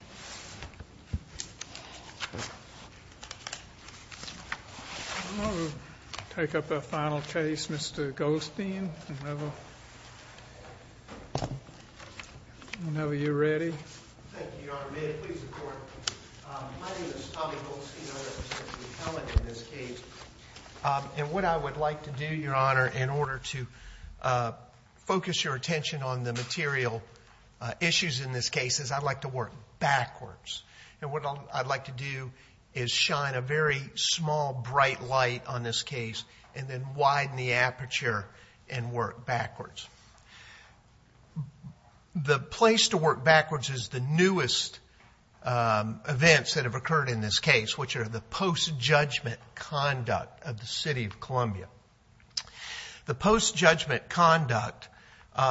I'm going to take up our final case, Mr. Goldstein, whenever you're ready. Thank you, Your Honor. May it please the Court? My name is Tommy Goldstein. I represent McKellan in this case. What I would like to do, Your Honor, in order to focus your attention on the material issues in this case is I'd like to work backwards. And what I'd like to do is shine a very small, bright light on this case and then widen the aperture and work backwards. The place to work backwards is the newest events that have occurred in this case, which are the post-judgment conduct of the City of Columbia. The post-judgment conduct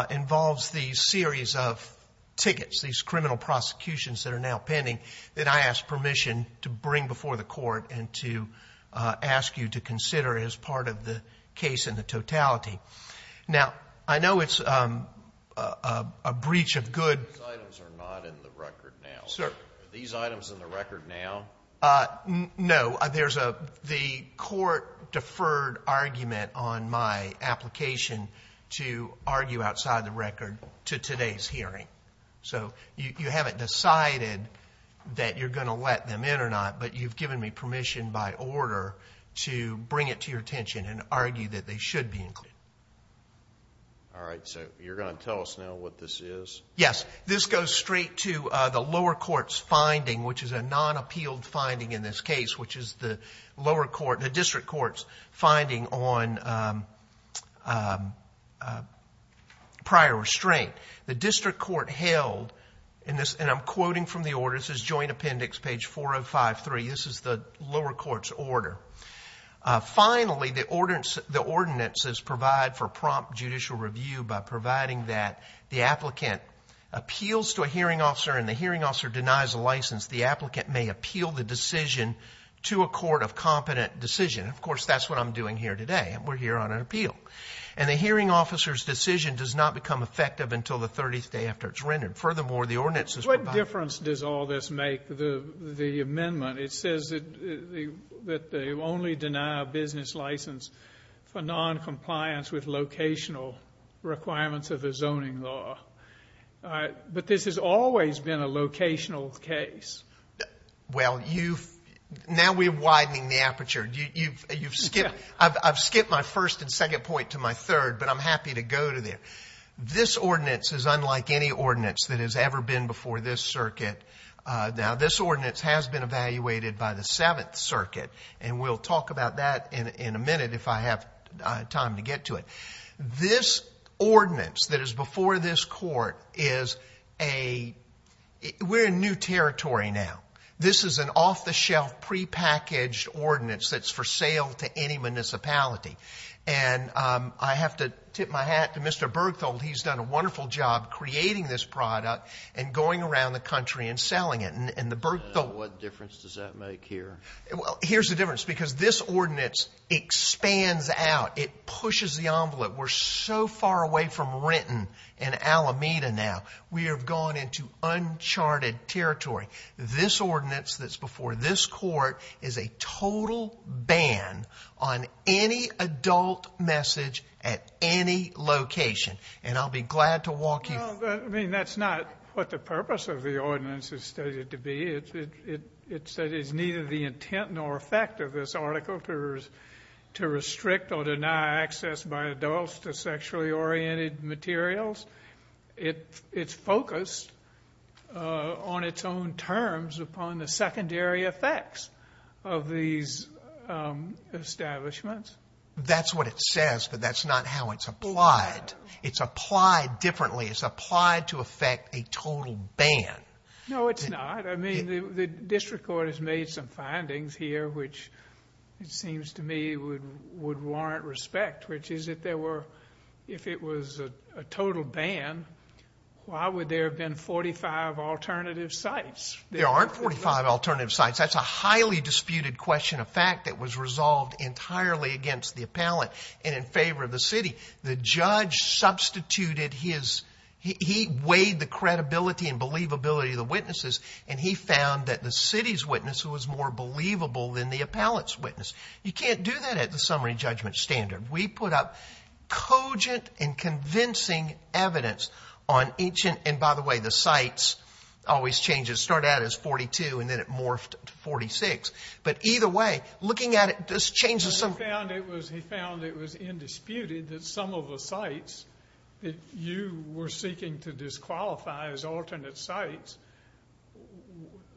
involves the series of tickets, these criminal prosecutions that are now pending, that I ask permission to bring before the Court and to ask you to consider as part of the case in the totality. Now, I know it's a breach of good... These items are not in the record now. Sir. Are these items in the record now? No. There's the court deferred argument on my application to argue outside the record to today's hearing. So you haven't decided that you're going to let them in or not, but you've given me permission by order to bring it to your attention and argue that they should be included. All right. So you're going to tell us now what this is? Yes. This goes straight to the lower court's finding, which is a non-appealed finding in this case, which is the district court's finding on prior restraint. The district court held, and I'm quoting from the order. This is Joint Appendix, page 4053. This is the lower court's order. Finally, the ordinance says provide for prompt judicial review by providing that the applicant appeals to a hearing officer and the hearing officer denies a license. The applicant may appeal the decision to a court of competent decision. Of course, that's what I'm doing here today. We're here on an appeal. And the hearing officer's decision does not become effective until the 30th day after it's rendered. Furthermore, the ordinance is provided. What difference does all this make to the amendment? It says that they only deny a business license for noncompliance with locational requirements of the zoning law. But this has always been a locational case. Well, now we're widening the aperture. I've skipped my first and second point to my third, but I'm happy to go to there. This ordinance is unlike any ordinance that has ever been before this circuit. Now, this ordinance has been evaluated by the Seventh Circuit, and we'll talk about that in a minute if I have time to get to it. This ordinance that is before this court is a new territory now. This is an off-the-shelf prepackaged ordinance that's for sale to any municipality. And I have to tip my hat to Mr. Bergtholdt. He's done a wonderful job creating this product and going around the country and selling it. What difference does that make here? Here's the difference, because this ordinance expands out. It pushes the envelope. We're so far away from Renton and Alameda now. We have gone into uncharted territory. This ordinance that's before this court is a total ban on any adult message at any location. And I'll be glad to walk you through it. I mean, that's not what the purpose of the ordinance is stated to be. It says it's neither the intent nor effect of this article to restrict or deny access by adults to sexually oriented materials. It's focused on its own terms upon the secondary effects of these establishments. That's what it says, but that's not how it's applied. It's applied differently. It's applied to effect a total ban. No, it's not. I mean, the district court has made some findings here, which it seems to me would warrant respect, which is if it was a total ban, why would there have been 45 alternative sites? There aren't 45 alternative sites. That's a highly disputed question of fact that was resolved entirely against the appellate and in favor of the city. The judge substituted his – he weighed the credibility and believability of the witnesses, and he found that the city's witness was more believable than the appellate's witness. You can't do that at the summary judgment standard. We put up cogent and convincing evidence on each – and by the way, the sites always change. It started out as 42, and then it morphed to 46. But either way, looking at it, this changes something. He found it was indisputed that some of the sites that you were seeking to disqualify as alternate sites,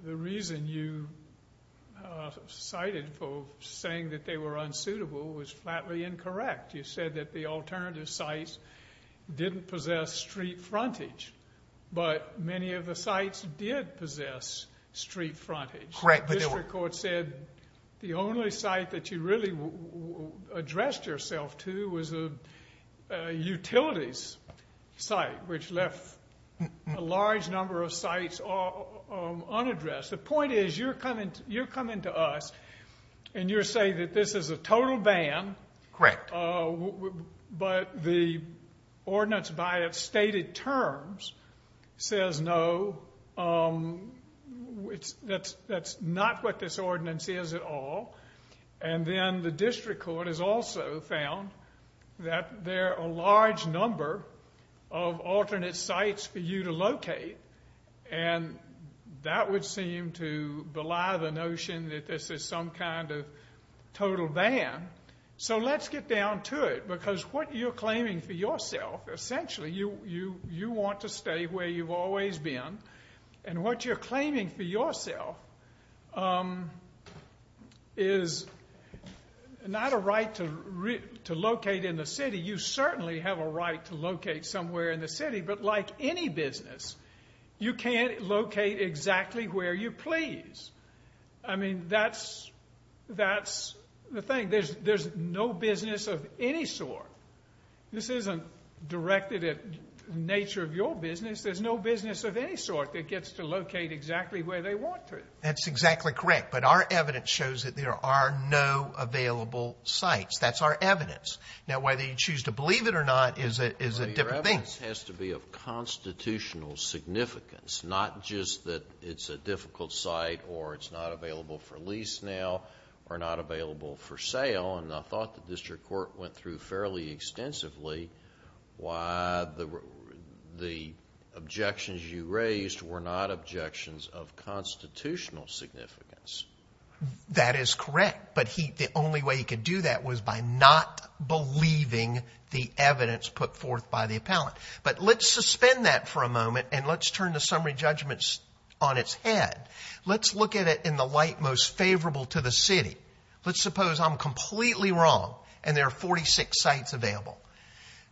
the reason you cited for saying that they were unsuitable was flatly incorrect. You said that the alternative sites didn't possess street frontage, but many of the sites did possess street frontage. The district court said the only site that you really addressed yourself to was a utilities site, which left a large number of sites unaddressed. The point is you're coming to us, and you're saying that this is a total ban. Correct. But the ordinance by its stated terms says no. That's not what this ordinance is at all. And then the district court has also found that there are a large number of alternate sites for you to locate, and that would seem to belie the notion that this is some kind of total ban. So let's get down to it, because what you're claiming for yourself, essentially you want to stay where you've always been, and what you're claiming for yourself is not a right to locate in the city. You certainly have a right to locate somewhere in the city, but like any business, you can't locate exactly where you please. I mean, that's the thing. There's no business of any sort. This isn't directed at the nature of your business. There's no business of any sort that gets to locate exactly where they want to. That's exactly correct, but our evidence shows that there are no available sites. That's our evidence. Now, whether you choose to believe it or not is a different thing. Your evidence has to be of constitutional significance, not just that it's a difficult site or it's not available for lease now or not available for sale, and I thought the district court went through fairly extensively why the objections you raised were not objections of constitutional significance. That is correct, but the only way he could do that was by not believing the evidence put forth by the appellant. But let's suspend that for a moment and let's turn the summary judgments on its head. Let's look at it in the light most favorable to the city. Let's suppose I'm completely wrong and there are 46 sites available.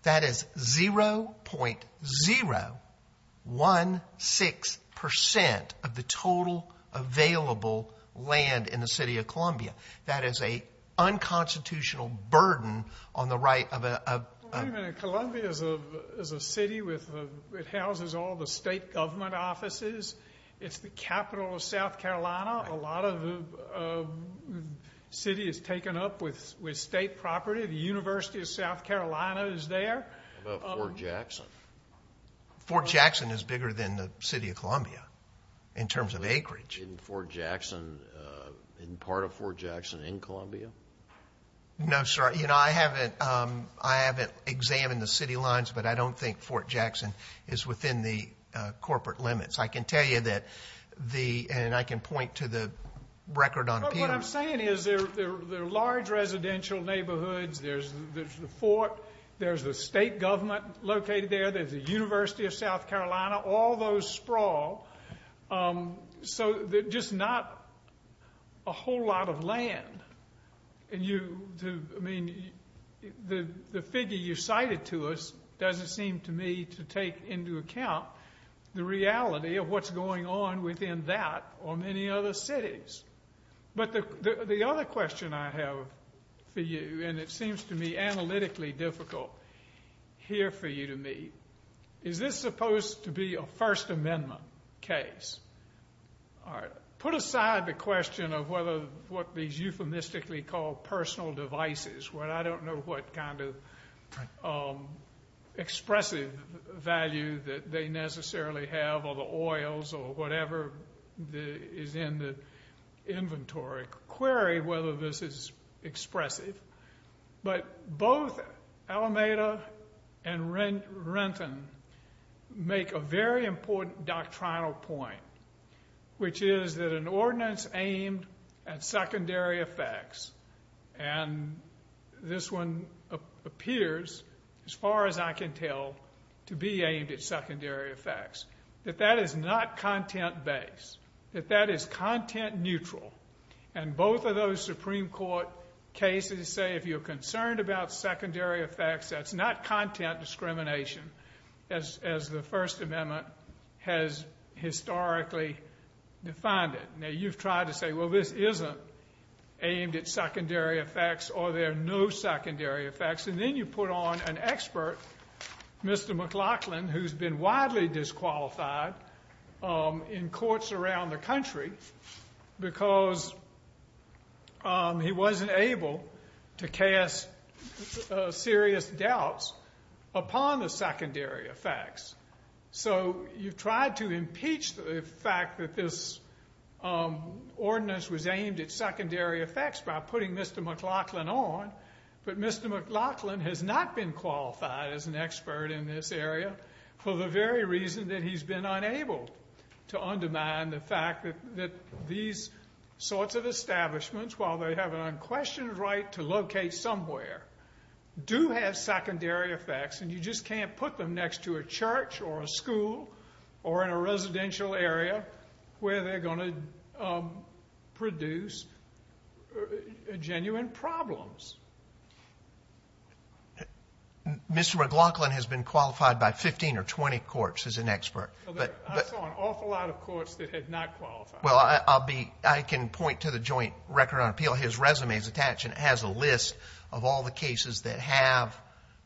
That is 0.016% of the total available land in the city of Columbia. That is a unconstitutional burden on the right of a – it houses all the state government offices. It's the capital of South Carolina. A lot of the city is taken up with state property. The University of South Carolina is there. How about Fort Jackson? Fort Jackson is bigger than the city of Columbia in terms of acreage. Isn't Fort Jackson – isn't part of Fort Jackson in Columbia? No, sir. You know, I haven't examined the city lines, but I don't think Fort Jackson is within the corporate limits. I can tell you that the – and I can point to the record on appeal. What I'm saying is there are large residential neighborhoods. There's the fort. There's the state government located there. There's the University of South Carolina. All those sprawl. So just not a whole lot of land. And you – I mean, the figure you cited to us doesn't seem to me to take into account the reality of what's going on within that or many other cities. But the other question I have for you, and it seems to me analytically difficult here for you to meet, is this supposed to be a First Amendment case? All right. Put aside the question of whether what these euphemistically call personal devices, where I don't know what kind of expressive value that they necessarily have or the oils or whatever is in the inventory, query whether this is expressive. But both Alameda and Renton make a very important doctrinal point, which is that an ordinance aimed at secondary effects – and this one appears, as far as I can tell, to be aimed at secondary effects – that that is not content-based, that that is content-neutral. And both of those Supreme Court cases say if you're concerned about secondary effects, that's not content discrimination, as the First Amendment has historically defined it. Now, you've tried to say, well, this isn't aimed at secondary effects or there are no secondary effects. And then you put on an expert, Mr. McLaughlin, because he wasn't able to cast serious doubts upon the secondary effects. So you've tried to impeach the fact that this ordinance was aimed at secondary effects by putting Mr. McLaughlin on, but Mr. McLaughlin has not been qualified as an expert in this area for the very reason that he's been unable to undermine the fact that these sorts of establishments, while they have an unquestioned right to locate somewhere, do have secondary effects, and you just can't put them next to a church or a school or in a residential area where they're going to produce genuine problems. Mr. McLaughlin has been qualified by 15 or 20 courts as an expert. I saw an awful lot of courts that had not qualified. Well, I can point to the Joint Record on Appeal. His resume is attached and it has a list of all the cases that have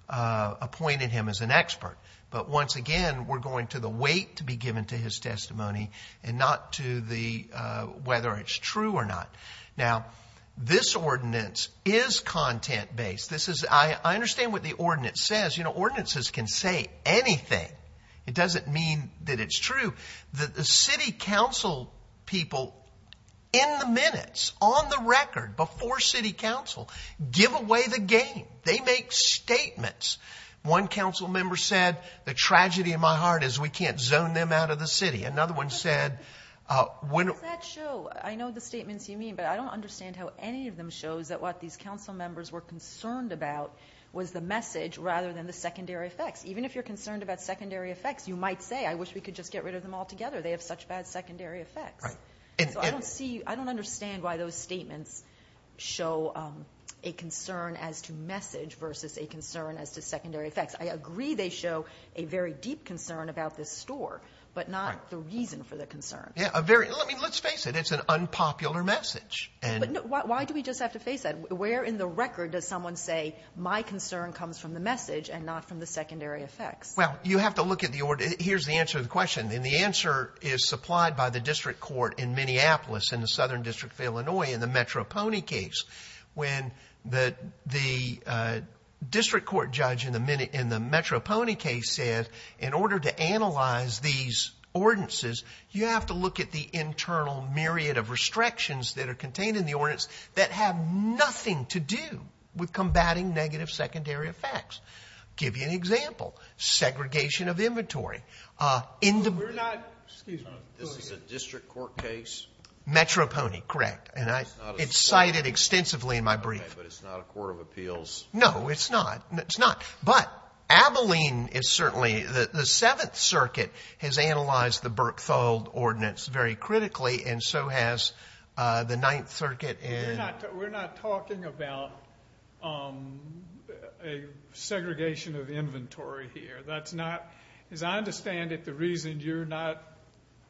appointed him as an expert. But once again, we're going to the weight to be given to his testimony and not to whether it's true or not. Now, this ordinance is content-based. I understand what the ordinance says. You know, ordinances can say anything. It doesn't mean that it's true. The city council people, in the minutes, on the record, before city council, give away the game. They make statements. One council member said, The tragedy in my heart is we can't zone them out of the city. Another one said, What does that show? I know the statements you mean, but I don't understand how any of them shows that what these council members were concerned about was the message rather than the secondary effects. Even if you're concerned about secondary effects, you might say, I wish we could just get rid of them altogether. They have such bad secondary effects. I don't understand why those statements show a concern as to message versus a concern as to secondary effects. I agree they show a very deep concern about this store, but not the reason for the concern. Let's face it. It's an unpopular message. Why do we just have to face that? Where in the record does someone say, My concern comes from the message and not from the secondary effects? Well, you have to look at the order. Here's the answer to the question, and the answer is supplied by the district court in Minneapolis in the southern district of Illinois in the Metro Pony case. When the district court judge in the Metro Pony case said, In order to analyze these ordinances, you have to look at the internal myriad of restrictions that are contained in the ordinance that have nothing to do with combating negative secondary effects. I'll give you an example. Segregation of inventory. This is a district court case? Metro Pony, correct. It's cited extensively in my brief. But it's not a court of appeals? No, it's not. But Abilene is certainly, the Seventh Circuit has analyzed the Burke-Thold ordinance very critically, and so has the Ninth Circuit. We're not talking about a segregation of inventory here. As I understand it, the reason you're not,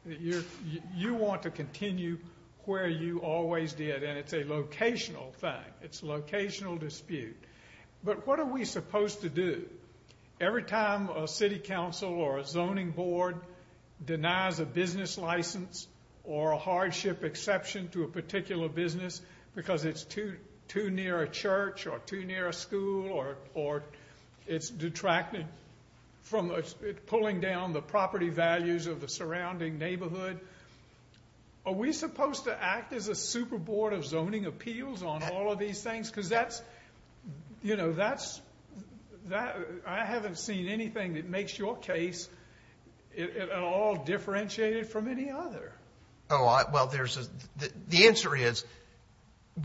you want to continue where you always did, and it's a locational thing. It's a locational dispute. But what are we supposed to do? Every time a city council or a zoning board denies a business license or a hardship exception to a particular business because it's too near a church or too near a school or it's detracted from pulling down the property values of the surrounding neighborhood, are we supposed to act as a super board of zoning appeals on all of these things? Because that's, you know, that's, I haven't seen anything that makes your case at all differentiated from any other. Oh, well, the answer is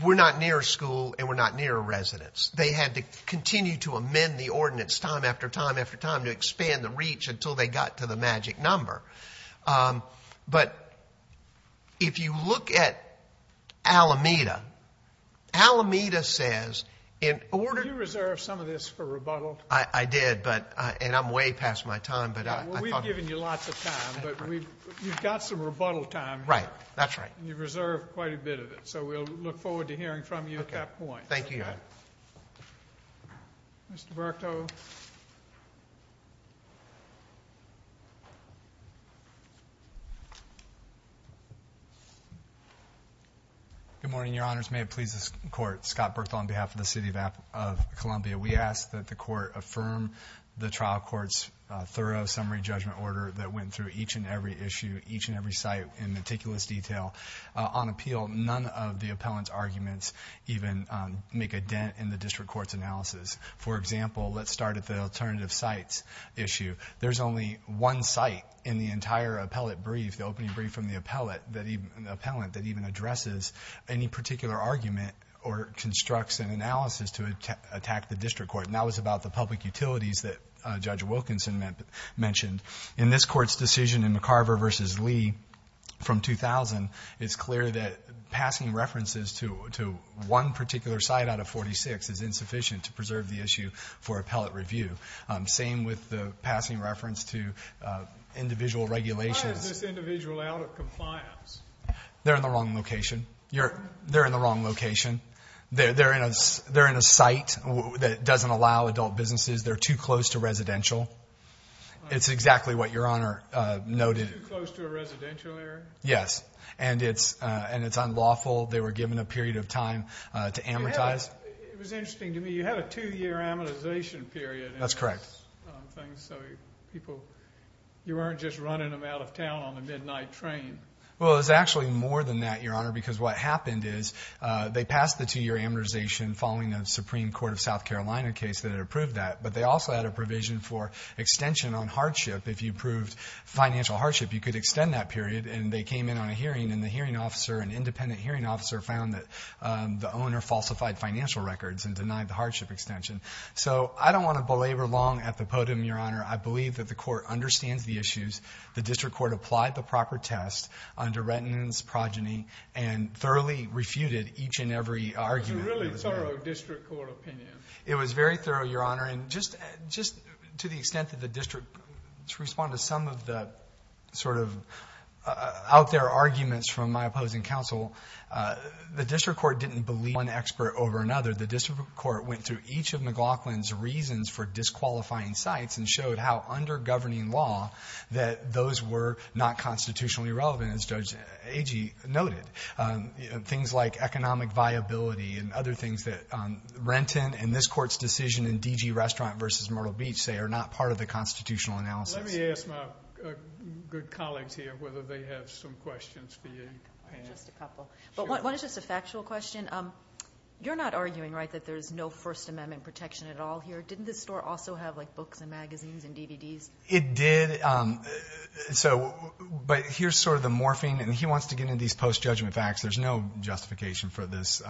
we're not near a school and we're not near a residence. They had to continue to amend the ordinance time after time after time to expand the reach until they got to the magic number. But if you look at Alameda, Alameda says in order to— Did you reserve some of this for rebuttal? I did, and I'm way past my time. Well, we've given you lots of time, but you've got some rebuttal time. Right, that's right. And you've reserved quite a bit of it. So we'll look forward to hearing from you at that point. Thank you, Your Honor. Mr. Berto. Good morning, Your Honors. May it please the Court. Scott Berto on behalf of the City of Columbia. We ask that the Court affirm the trial court's thorough summary judgment order that went through each and every issue, each and every site in meticulous detail. On appeal, none of the appellant's arguments even make a dent in the district court's analysis. For example, let's start at the alternative sites issue. There's only one site in the entire appellate brief, the opening brief from the appellant, that even addresses any particular argument or constructs an analysis to attack the district court, and that was about the public utilities that Judge Wilkinson mentioned. In this Court's decision in McCarver v. Lee from 2000, it's clear that passing references to one particular site out of 46 is insufficient to preserve the issue for appellate review. Same with the passing reference to individual regulations. Why is this individual out of compliance? They're in the wrong location. They're in the wrong location. They're in a site that doesn't allow adult businesses. They're too close to residential. It's exactly what Your Honor noted. Too close to a residential area? Yes, and it's unlawful. They were given a period of time to amortize. It was interesting to me. You had a two-year amortization period. That's correct. So you weren't just running them out of town on the midnight train. Well, it was actually more than that, Your Honor, because what happened is they passed the two-year amortization following a Supreme Court of South Carolina case that had approved that, but they also had a provision for extension on hardship. If you approved financial hardship, you could extend that period, and they came in on a hearing, and the hearing officer, an independent hearing officer, found that the owner falsified financial records and denied the hardship extension. So I don't want to belabor long at the podium, Your Honor. I believe that the Court understands the issues. The district court applied the proper test under retinence, progeny, and thoroughly refuted each and every argument. It was a really thorough district court opinion. It was very thorough, Your Honor, and just to the extent that the district could respond to some of the sort of out there arguments from my opposing counsel, the district court didn't believe one expert over another. The district court went through each of McLaughlin's reasons for disqualifying sites and showed how, under governing law, that those were not constitutionally relevant, as Judge Agee noted. Things like economic viability and other things that Renton and this Court's decision in DG Restaurant v. Myrtle Beach say are not part of the constitutional analysis. Let me ask my good colleagues here whether they have some questions for you. Just a couple. One is just a factual question. You're not arguing, right, that there's no First Amendment protection at all here? Didn't the store also have, like, books and magazines and DVDs? It did. But here's sort of the morphing, and he wants to get into these post-judgment facts. There's no justification for this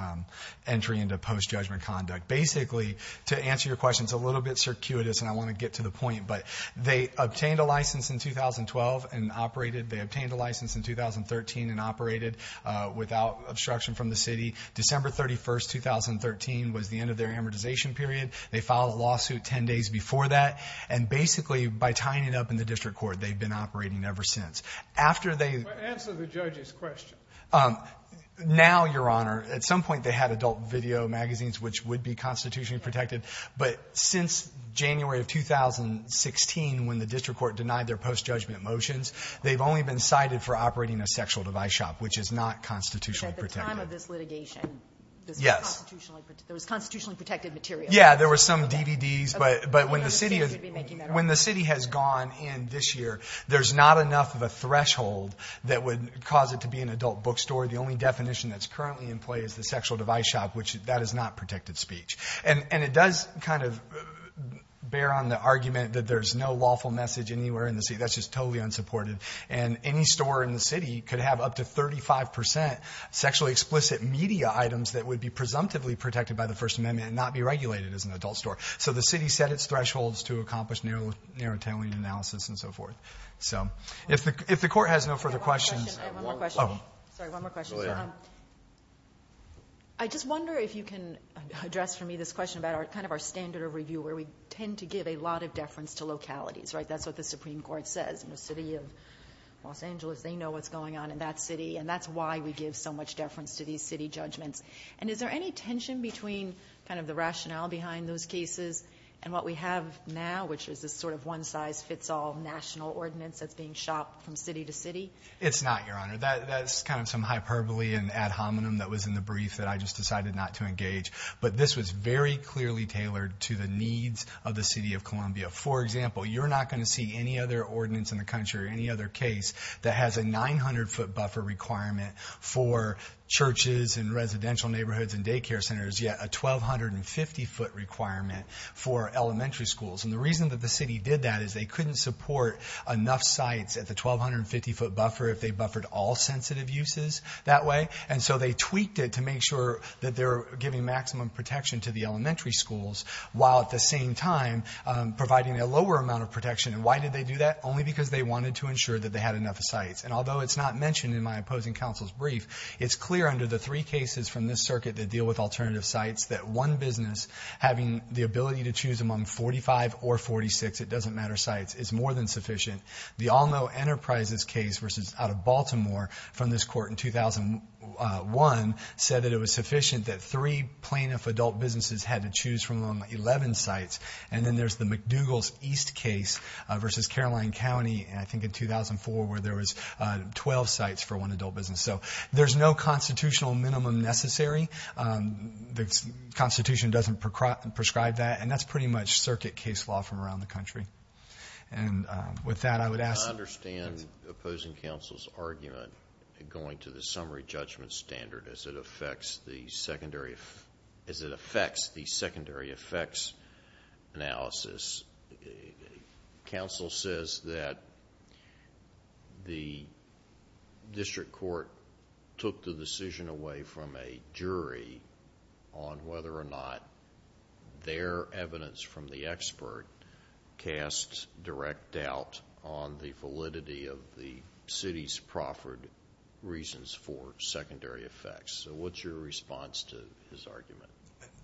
entry into post-judgment conduct. Basically, to answer your question, it's a little bit circuitous, and I want to get to the point. But they obtained a license in 2012 and operated. They obtained a license in 2013 and operated without obstruction from the city. December 31, 2013, was the end of their amortization period. They filed a lawsuit 10 days before that. And basically, by tying it up in the district court, they've been operating ever since. After they... Answer the judge's question. Now, Your Honor, at some point they had adult video magazines, which would be constitutionally protected. But since January of 2016, when the district court denied their post-judgment motions, they've only been cited for operating a sexual device shop, which is not constitutionally protected. At the time of this litigation, this was constitutionally protected material? Yeah, there were some DVDs. But when the city has gone in this year, there's not enough of a threshold that would cause it to be an adult bookstore. The only definition that's currently in play is the sexual device shop, which that is not protected speech. And it does kind of bear on the argument that there's no lawful message anywhere in the city. That's just totally unsupported. And any store in the city could have up to 35% sexually explicit media items that would be presumptively protected by the First Amendment and not be regulated as an adult store. So the city set its thresholds to accomplish narrow tailing analysis and so forth. So if the court has no further questions... One more question. Sorry, one more question. I just wonder if you can address for me this question about kind of our standard of review, where we tend to give a lot of deference to localities, right? That's what the Supreme Court says. In the city of Los Angeles, they know what's going on in that city. And that's why we give so much deference to these city judgments. And is there any tension between kind of the rationale behind those cases and what we have now, which is this sort of one-size-fits-all national ordinance that's being shopped from city to city? It's not, Your Honor. That's kind of some hyperbole and ad hominem that was in the brief that I just decided not to engage. But this was very clearly tailored to the needs of the city of Columbia. For example, you're not going to see any other ordinance in the country or any other case that has a 900-foot buffer requirement for churches and residential neighborhoods and daycare centers, yet a 1,250-foot requirement for elementary schools. And the reason that the city did that is they couldn't support enough sites at the 1,250-foot buffer if they buffered all sensitive uses that way. And so they tweaked it to make sure that they're giving maximum protection to the elementary schools while at the same time providing a lower amount of protection. And why did they do that? Only because they wanted to ensure that they had enough sites. And although it's not mentioned in my opposing counsel's brief, it's clear under the three cases from this circuit that deal with alternative sites that one business having the ability to choose among 45 or 46, it doesn't matter, sites, is more than sufficient. The Alno Enterprises case out of Baltimore from this court in 2001 said that it was sufficient that three plaintiff adult businesses had to choose from among 11 sites. And then there's the McDougall's East case versus Caroline County, I think, in 2004, where there was 12 sites for one adult business. So there's no constitutional minimum necessary. The Constitution doesn't prescribe that, and that's pretty much circuit case law from around the country. And with that, I would ask... I understand opposing counsel's argument going to the summary judgment standard as it affects the secondary effects analysis. Counsel says that the district court took the decision away from a jury on whether or not their evidence from the expert cast direct doubt on the validity of the city's proffered reasons for secondary effects. So what's your response to his argument?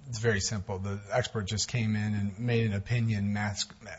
It's very simple. The expert just came in and made an opinion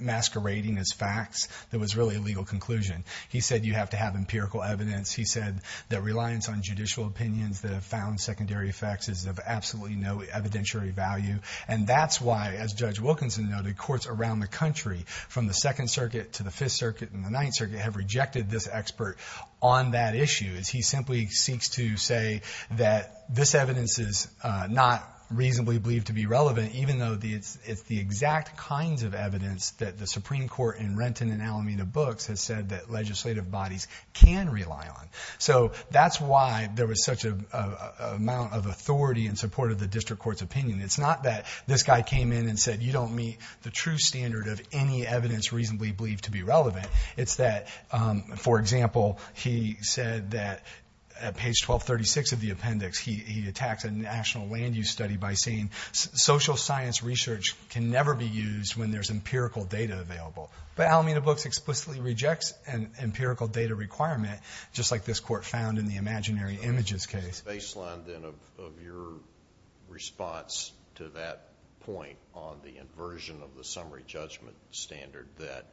masquerading as facts. It was really a legal conclusion. He said you have to have empirical evidence. He said that reliance on judicial opinions that have found secondary effects is of absolutely no evidentiary value. And that's why, as Judge Wilkinson noted, courts around the country, from the Second Circuit to the Fifth Circuit and the Ninth Circuit, have rejected this expert on that issue. He simply seeks to say that this evidence is not reasonably believed to be relevant, even though it's the exact kinds of evidence that the Supreme Court in Renton and Alameda books has said that legislative bodies can rely on. So that's why there was such an amount of authority in support of the district court's opinion. It's not that this guy came in and said, you don't meet the true standard of any evidence reasonably believed to be relevant. It's that, for example, he said that at page 1236 of the appendix, he attacks a national land use study by saying social science research can never be used when there's empirical data available. But Alameda books explicitly rejects an empirical data requirement, just like this court found in the imaginary images case. What was the baseline then of your response to that point on the inversion of the summary judgment standard that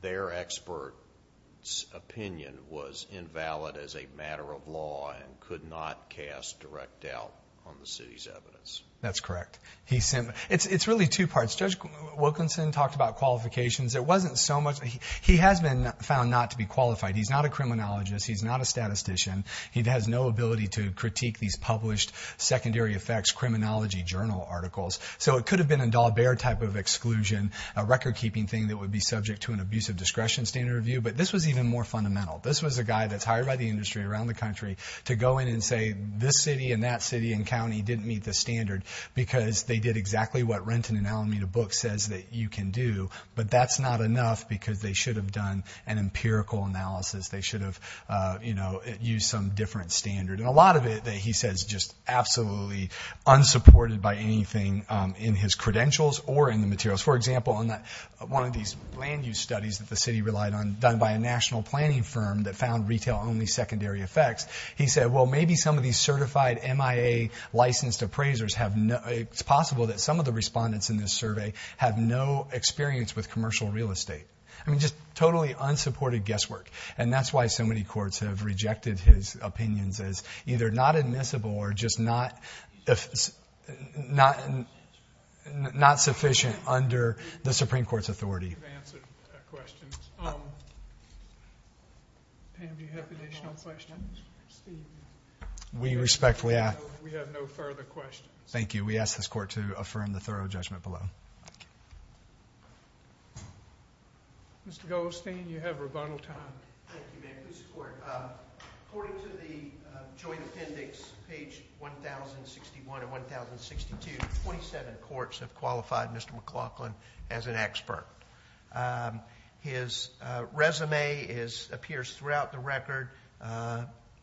their expert's opinion was invalid as a matter of law and could not cast direct doubt on the city's evidence? That's correct. It's really two parts. Judge Wilkinson talked about qualifications. It wasn't so much. He has been found not to be qualified. He's not a criminologist. He's not a statistician. He has no ability to critique these published secondary effects criminology journal articles. So it could have been a Dalbert type of exclusion, a record-keeping thing that would be subject to an abusive discretion standard review. But this was even more fundamental. This was a guy that's hired by the industry around the country to go in and say, this city and that city and county didn't meet the standard because they did exactly what Renton and Alameda books says that you can do. But that's not enough because they should have done an empirical analysis. They should have used some different standard. And a lot of it that he says is just absolutely unsupported by anything in his credentials or in the materials. For example, one of these land use studies that the city relied on done by a national planning firm that found retail-only secondary effects, he said, well, maybe some of these certified MIA licensed appraisers have no – it's possible that some of the respondents in this survey have no experience with commercial real estate. I mean, just totally unsupported guesswork. And that's why so many courts have rejected his opinions as either not admissible or just not sufficient under the Supreme Court's authority. You've answered questions. Pam, do you have additional questions? We respectfully ask. We have no further questions. Thank you. We ask this court to affirm the thorough judgment below. Mr. Goldstein, you have rebuttal time. Thank you, ma'am. Please support. According to the joint appendix, page 1061 and 1062, 27 courts have qualified Mr. McLaughlin as an expert. His resume appears throughout the record.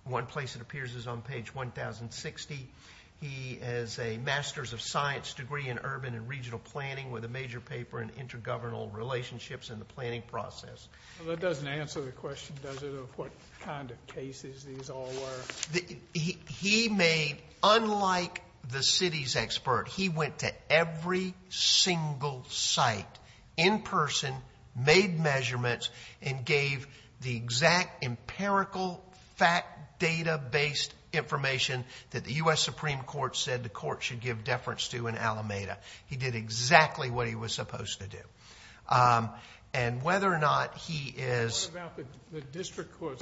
One place it appears is on page 1060. He has a master's of science degree in urban and regional planning with a major paper in intergovernal relationships and the planning process. That doesn't answer the question, does it, of what kind of cases these all were? He made, unlike the city's expert, he went to every single site in person, made measurements, and gave the exact empirical fact data-based information that the U.S. Supreme Court said the court should give deference to in Alameda. He did exactly what he was supposed to do. And whether or not he is... What about the district court?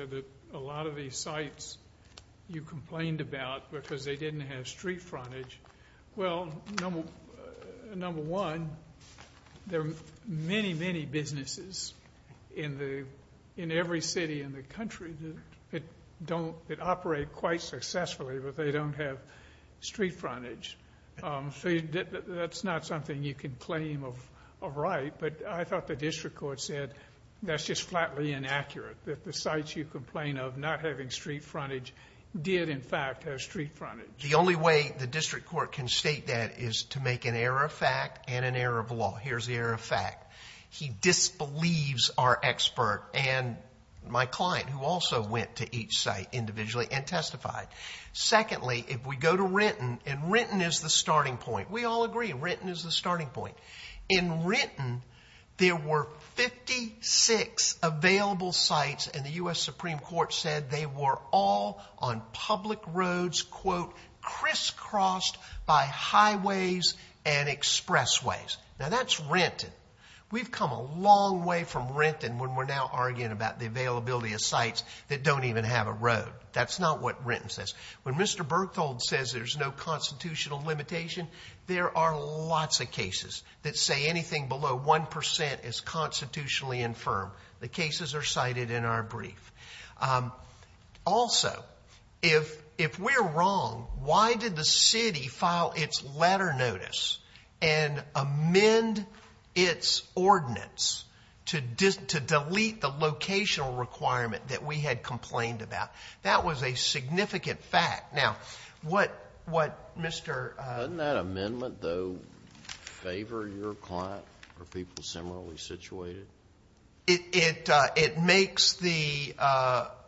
A lot of these sites you complained about because they didn't have street frontage. Well, number one, there are many, many businesses in every city in the country that operate quite successfully, but they don't have street frontage. That's not something you can claim of right, but I thought the district court said that's just flatly inaccurate, that the sites you complain of not having street frontage did, in fact, have street frontage. The only way the district court can state that is to make an error of fact and an error of law. Here's the error of fact. He disbelieves our expert and my client, who also went to each site individually and testified. Secondly, if we go to Renton, and Renton is the starting point. We all agree, Renton is the starting point. In Renton, there were 56 available sites, and the U.S. Supreme Court said they were all on public roads, quote, crisscrossed by highways and expressways. Now, that's Renton. We've come a long way from Renton when we're now arguing about the availability of sites that don't even have a road. That's not what Renton says. When Mr. Berthold says there's no constitutional limitation, there are lots of cases that say anything below 1% is constitutionally infirm. The cases are cited in our brief. Also, if we're wrong, why did the city file its letter notice and amend its ordinance to delete the locational requirement that we had complained about? That was a significant fact. Now, what Mr. Doesn't that amendment, though, favor your client or people similarly situated? It makes the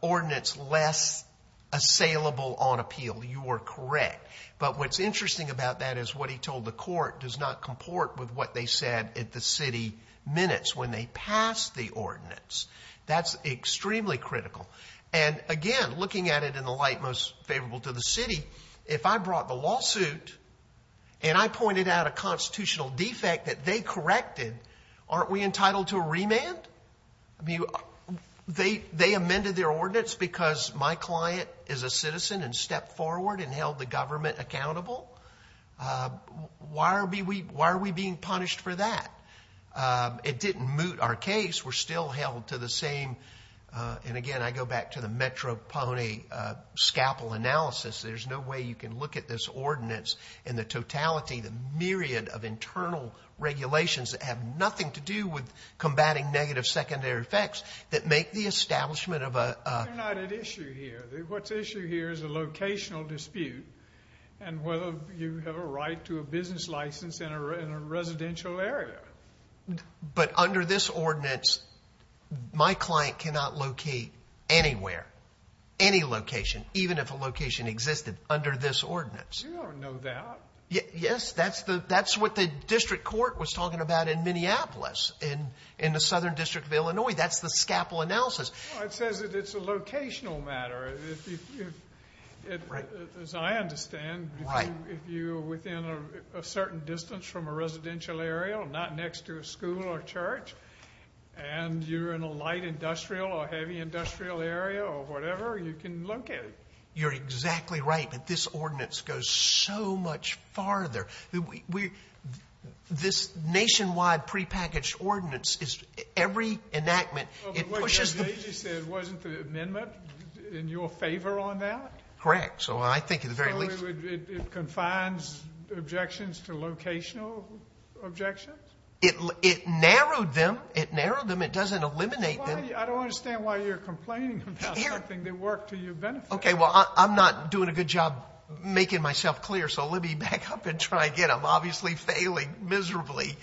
ordinance less assailable on appeal. You are correct. But what's interesting about that is what he told the court does not comport with what they said at the city minutes when they passed the ordinance. That's extremely critical. Again, looking at it in the light most favorable to the city, if I brought the lawsuit and I pointed out a constitutional defect that they corrected, aren't we entitled to a remand? They amended their ordinance because my client is a citizen and stepped forward and held the government accountable. Why are we being punished for that? It didn't moot our case. We're still held to the same. Again, I go back to the Metropony scalpel analysis. There's no way you can look at this ordinance in the totality, the myriad of internal regulations that have nothing to do with combating negative secondary effects that make the establishment of a You're not at issue here. What's at issue here is a locational dispute and whether you have a right to a business license in a residential area. But under this ordinance, my client cannot locate anywhere, any location, even if a location existed under this ordinance. You don't know that. Yes, that's what the district court was talking about in Minneapolis in the southern district of Illinois. That's the scalpel analysis. It says that it's a locational matter. As I understand, if you're within a certain distance from a residential area or not next to a school or church and you're in a light industrial or heavy industrial area or whatever, you can locate. You're exactly right. But this ordinance goes so much farther. This nationwide prepackaged ordinance, every enactment, it pushes the You said it wasn't the amendment in your favor on that. Correct. So I think it confines objections to locational objections. It narrowed them. It narrowed them. It doesn't eliminate them. I don't understand why you're complaining about something that worked to your benefit. OK, well, I'm not doing a good job making myself clear. So let me back up and try again. I'm obviously failing miserably.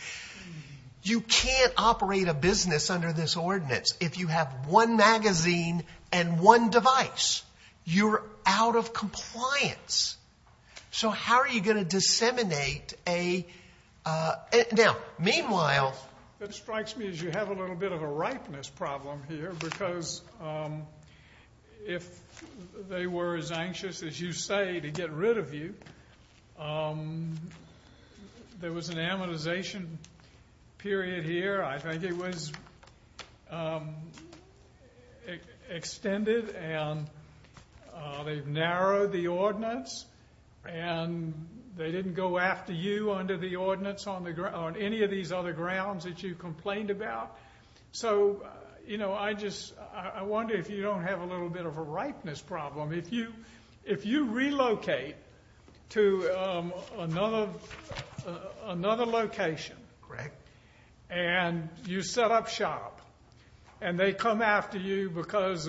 You can't operate a business under this ordinance if you have one magazine and one device. You're out of compliance. So how are you going to disseminate a Now, meanwhile, What strikes me is you have a little bit of a ripeness problem here because if they were as anxious, as you say, to get rid of you, there was an amortization period here. I think it was extended and they've narrowed the ordinance and they didn't go after you under the ordinance on any of these other grounds that you complained about. So, you know, I just I wonder if you don't have a little bit of a ripeness problem. If you relocate to another location and you set up shop and they come after you because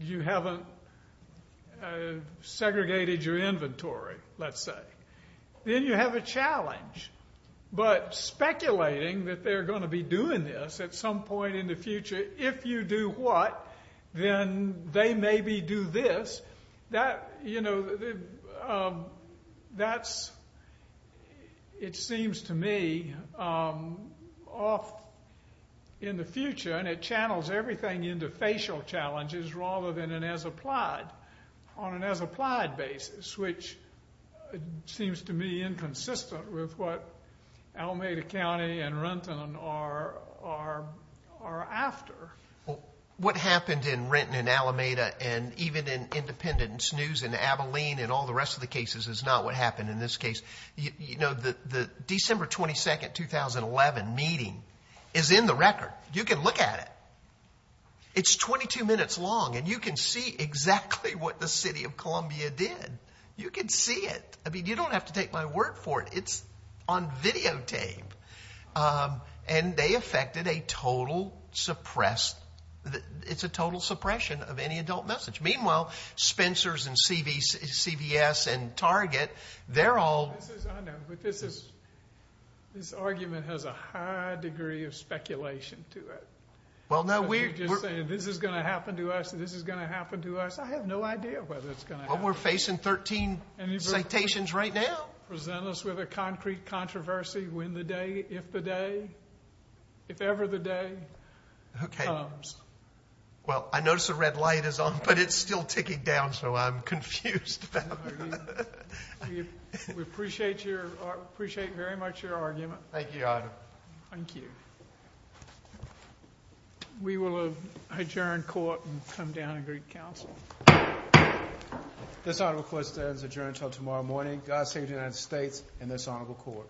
you haven't segregated your inventory, let's say, then you have a challenge. But speculating that they're going to be doing this at some point in the future, if you do what, then they maybe do this. That, you know, that's, it seems to me, off in the future. And it channels everything into facial challenges rather than an as-applied, on an as-applied basis, which seems to me inconsistent with what Alameda County and Renton are after. What happened in Renton and Alameda and even in Independence News and Abilene and all the rest of the cases is not what happened in this case. You know, the December 22, 2011 meeting is in the record. You can look at it. It's 22 minutes long and you can see exactly what the city of Columbia did. You can see it. I mean, you don't have to take my word for it. It's on videotape. And they affected a total suppressed, it's a total suppression of any adult message. Meanwhile, Spencers and CVS and Target, they're all. I know, but this is, this argument has a high degree of speculation to it. Well, no, we're. You're just saying this is going to happen to us and this is going to happen to us. I have no idea whether it's going to happen. Well, we're facing 13 citations right now. Present us with a concrete controversy when the day, if the day, if ever the day comes. Well, I notice the red light is on, but it's still ticking down, so I'm confused about that. We appreciate your, appreciate very much your argument. Thank you, Your Honor. Thank you. We will adjourn court and come down and greet counsel. This honorable court stands adjourned until tomorrow morning. God save the United States and this honorable court.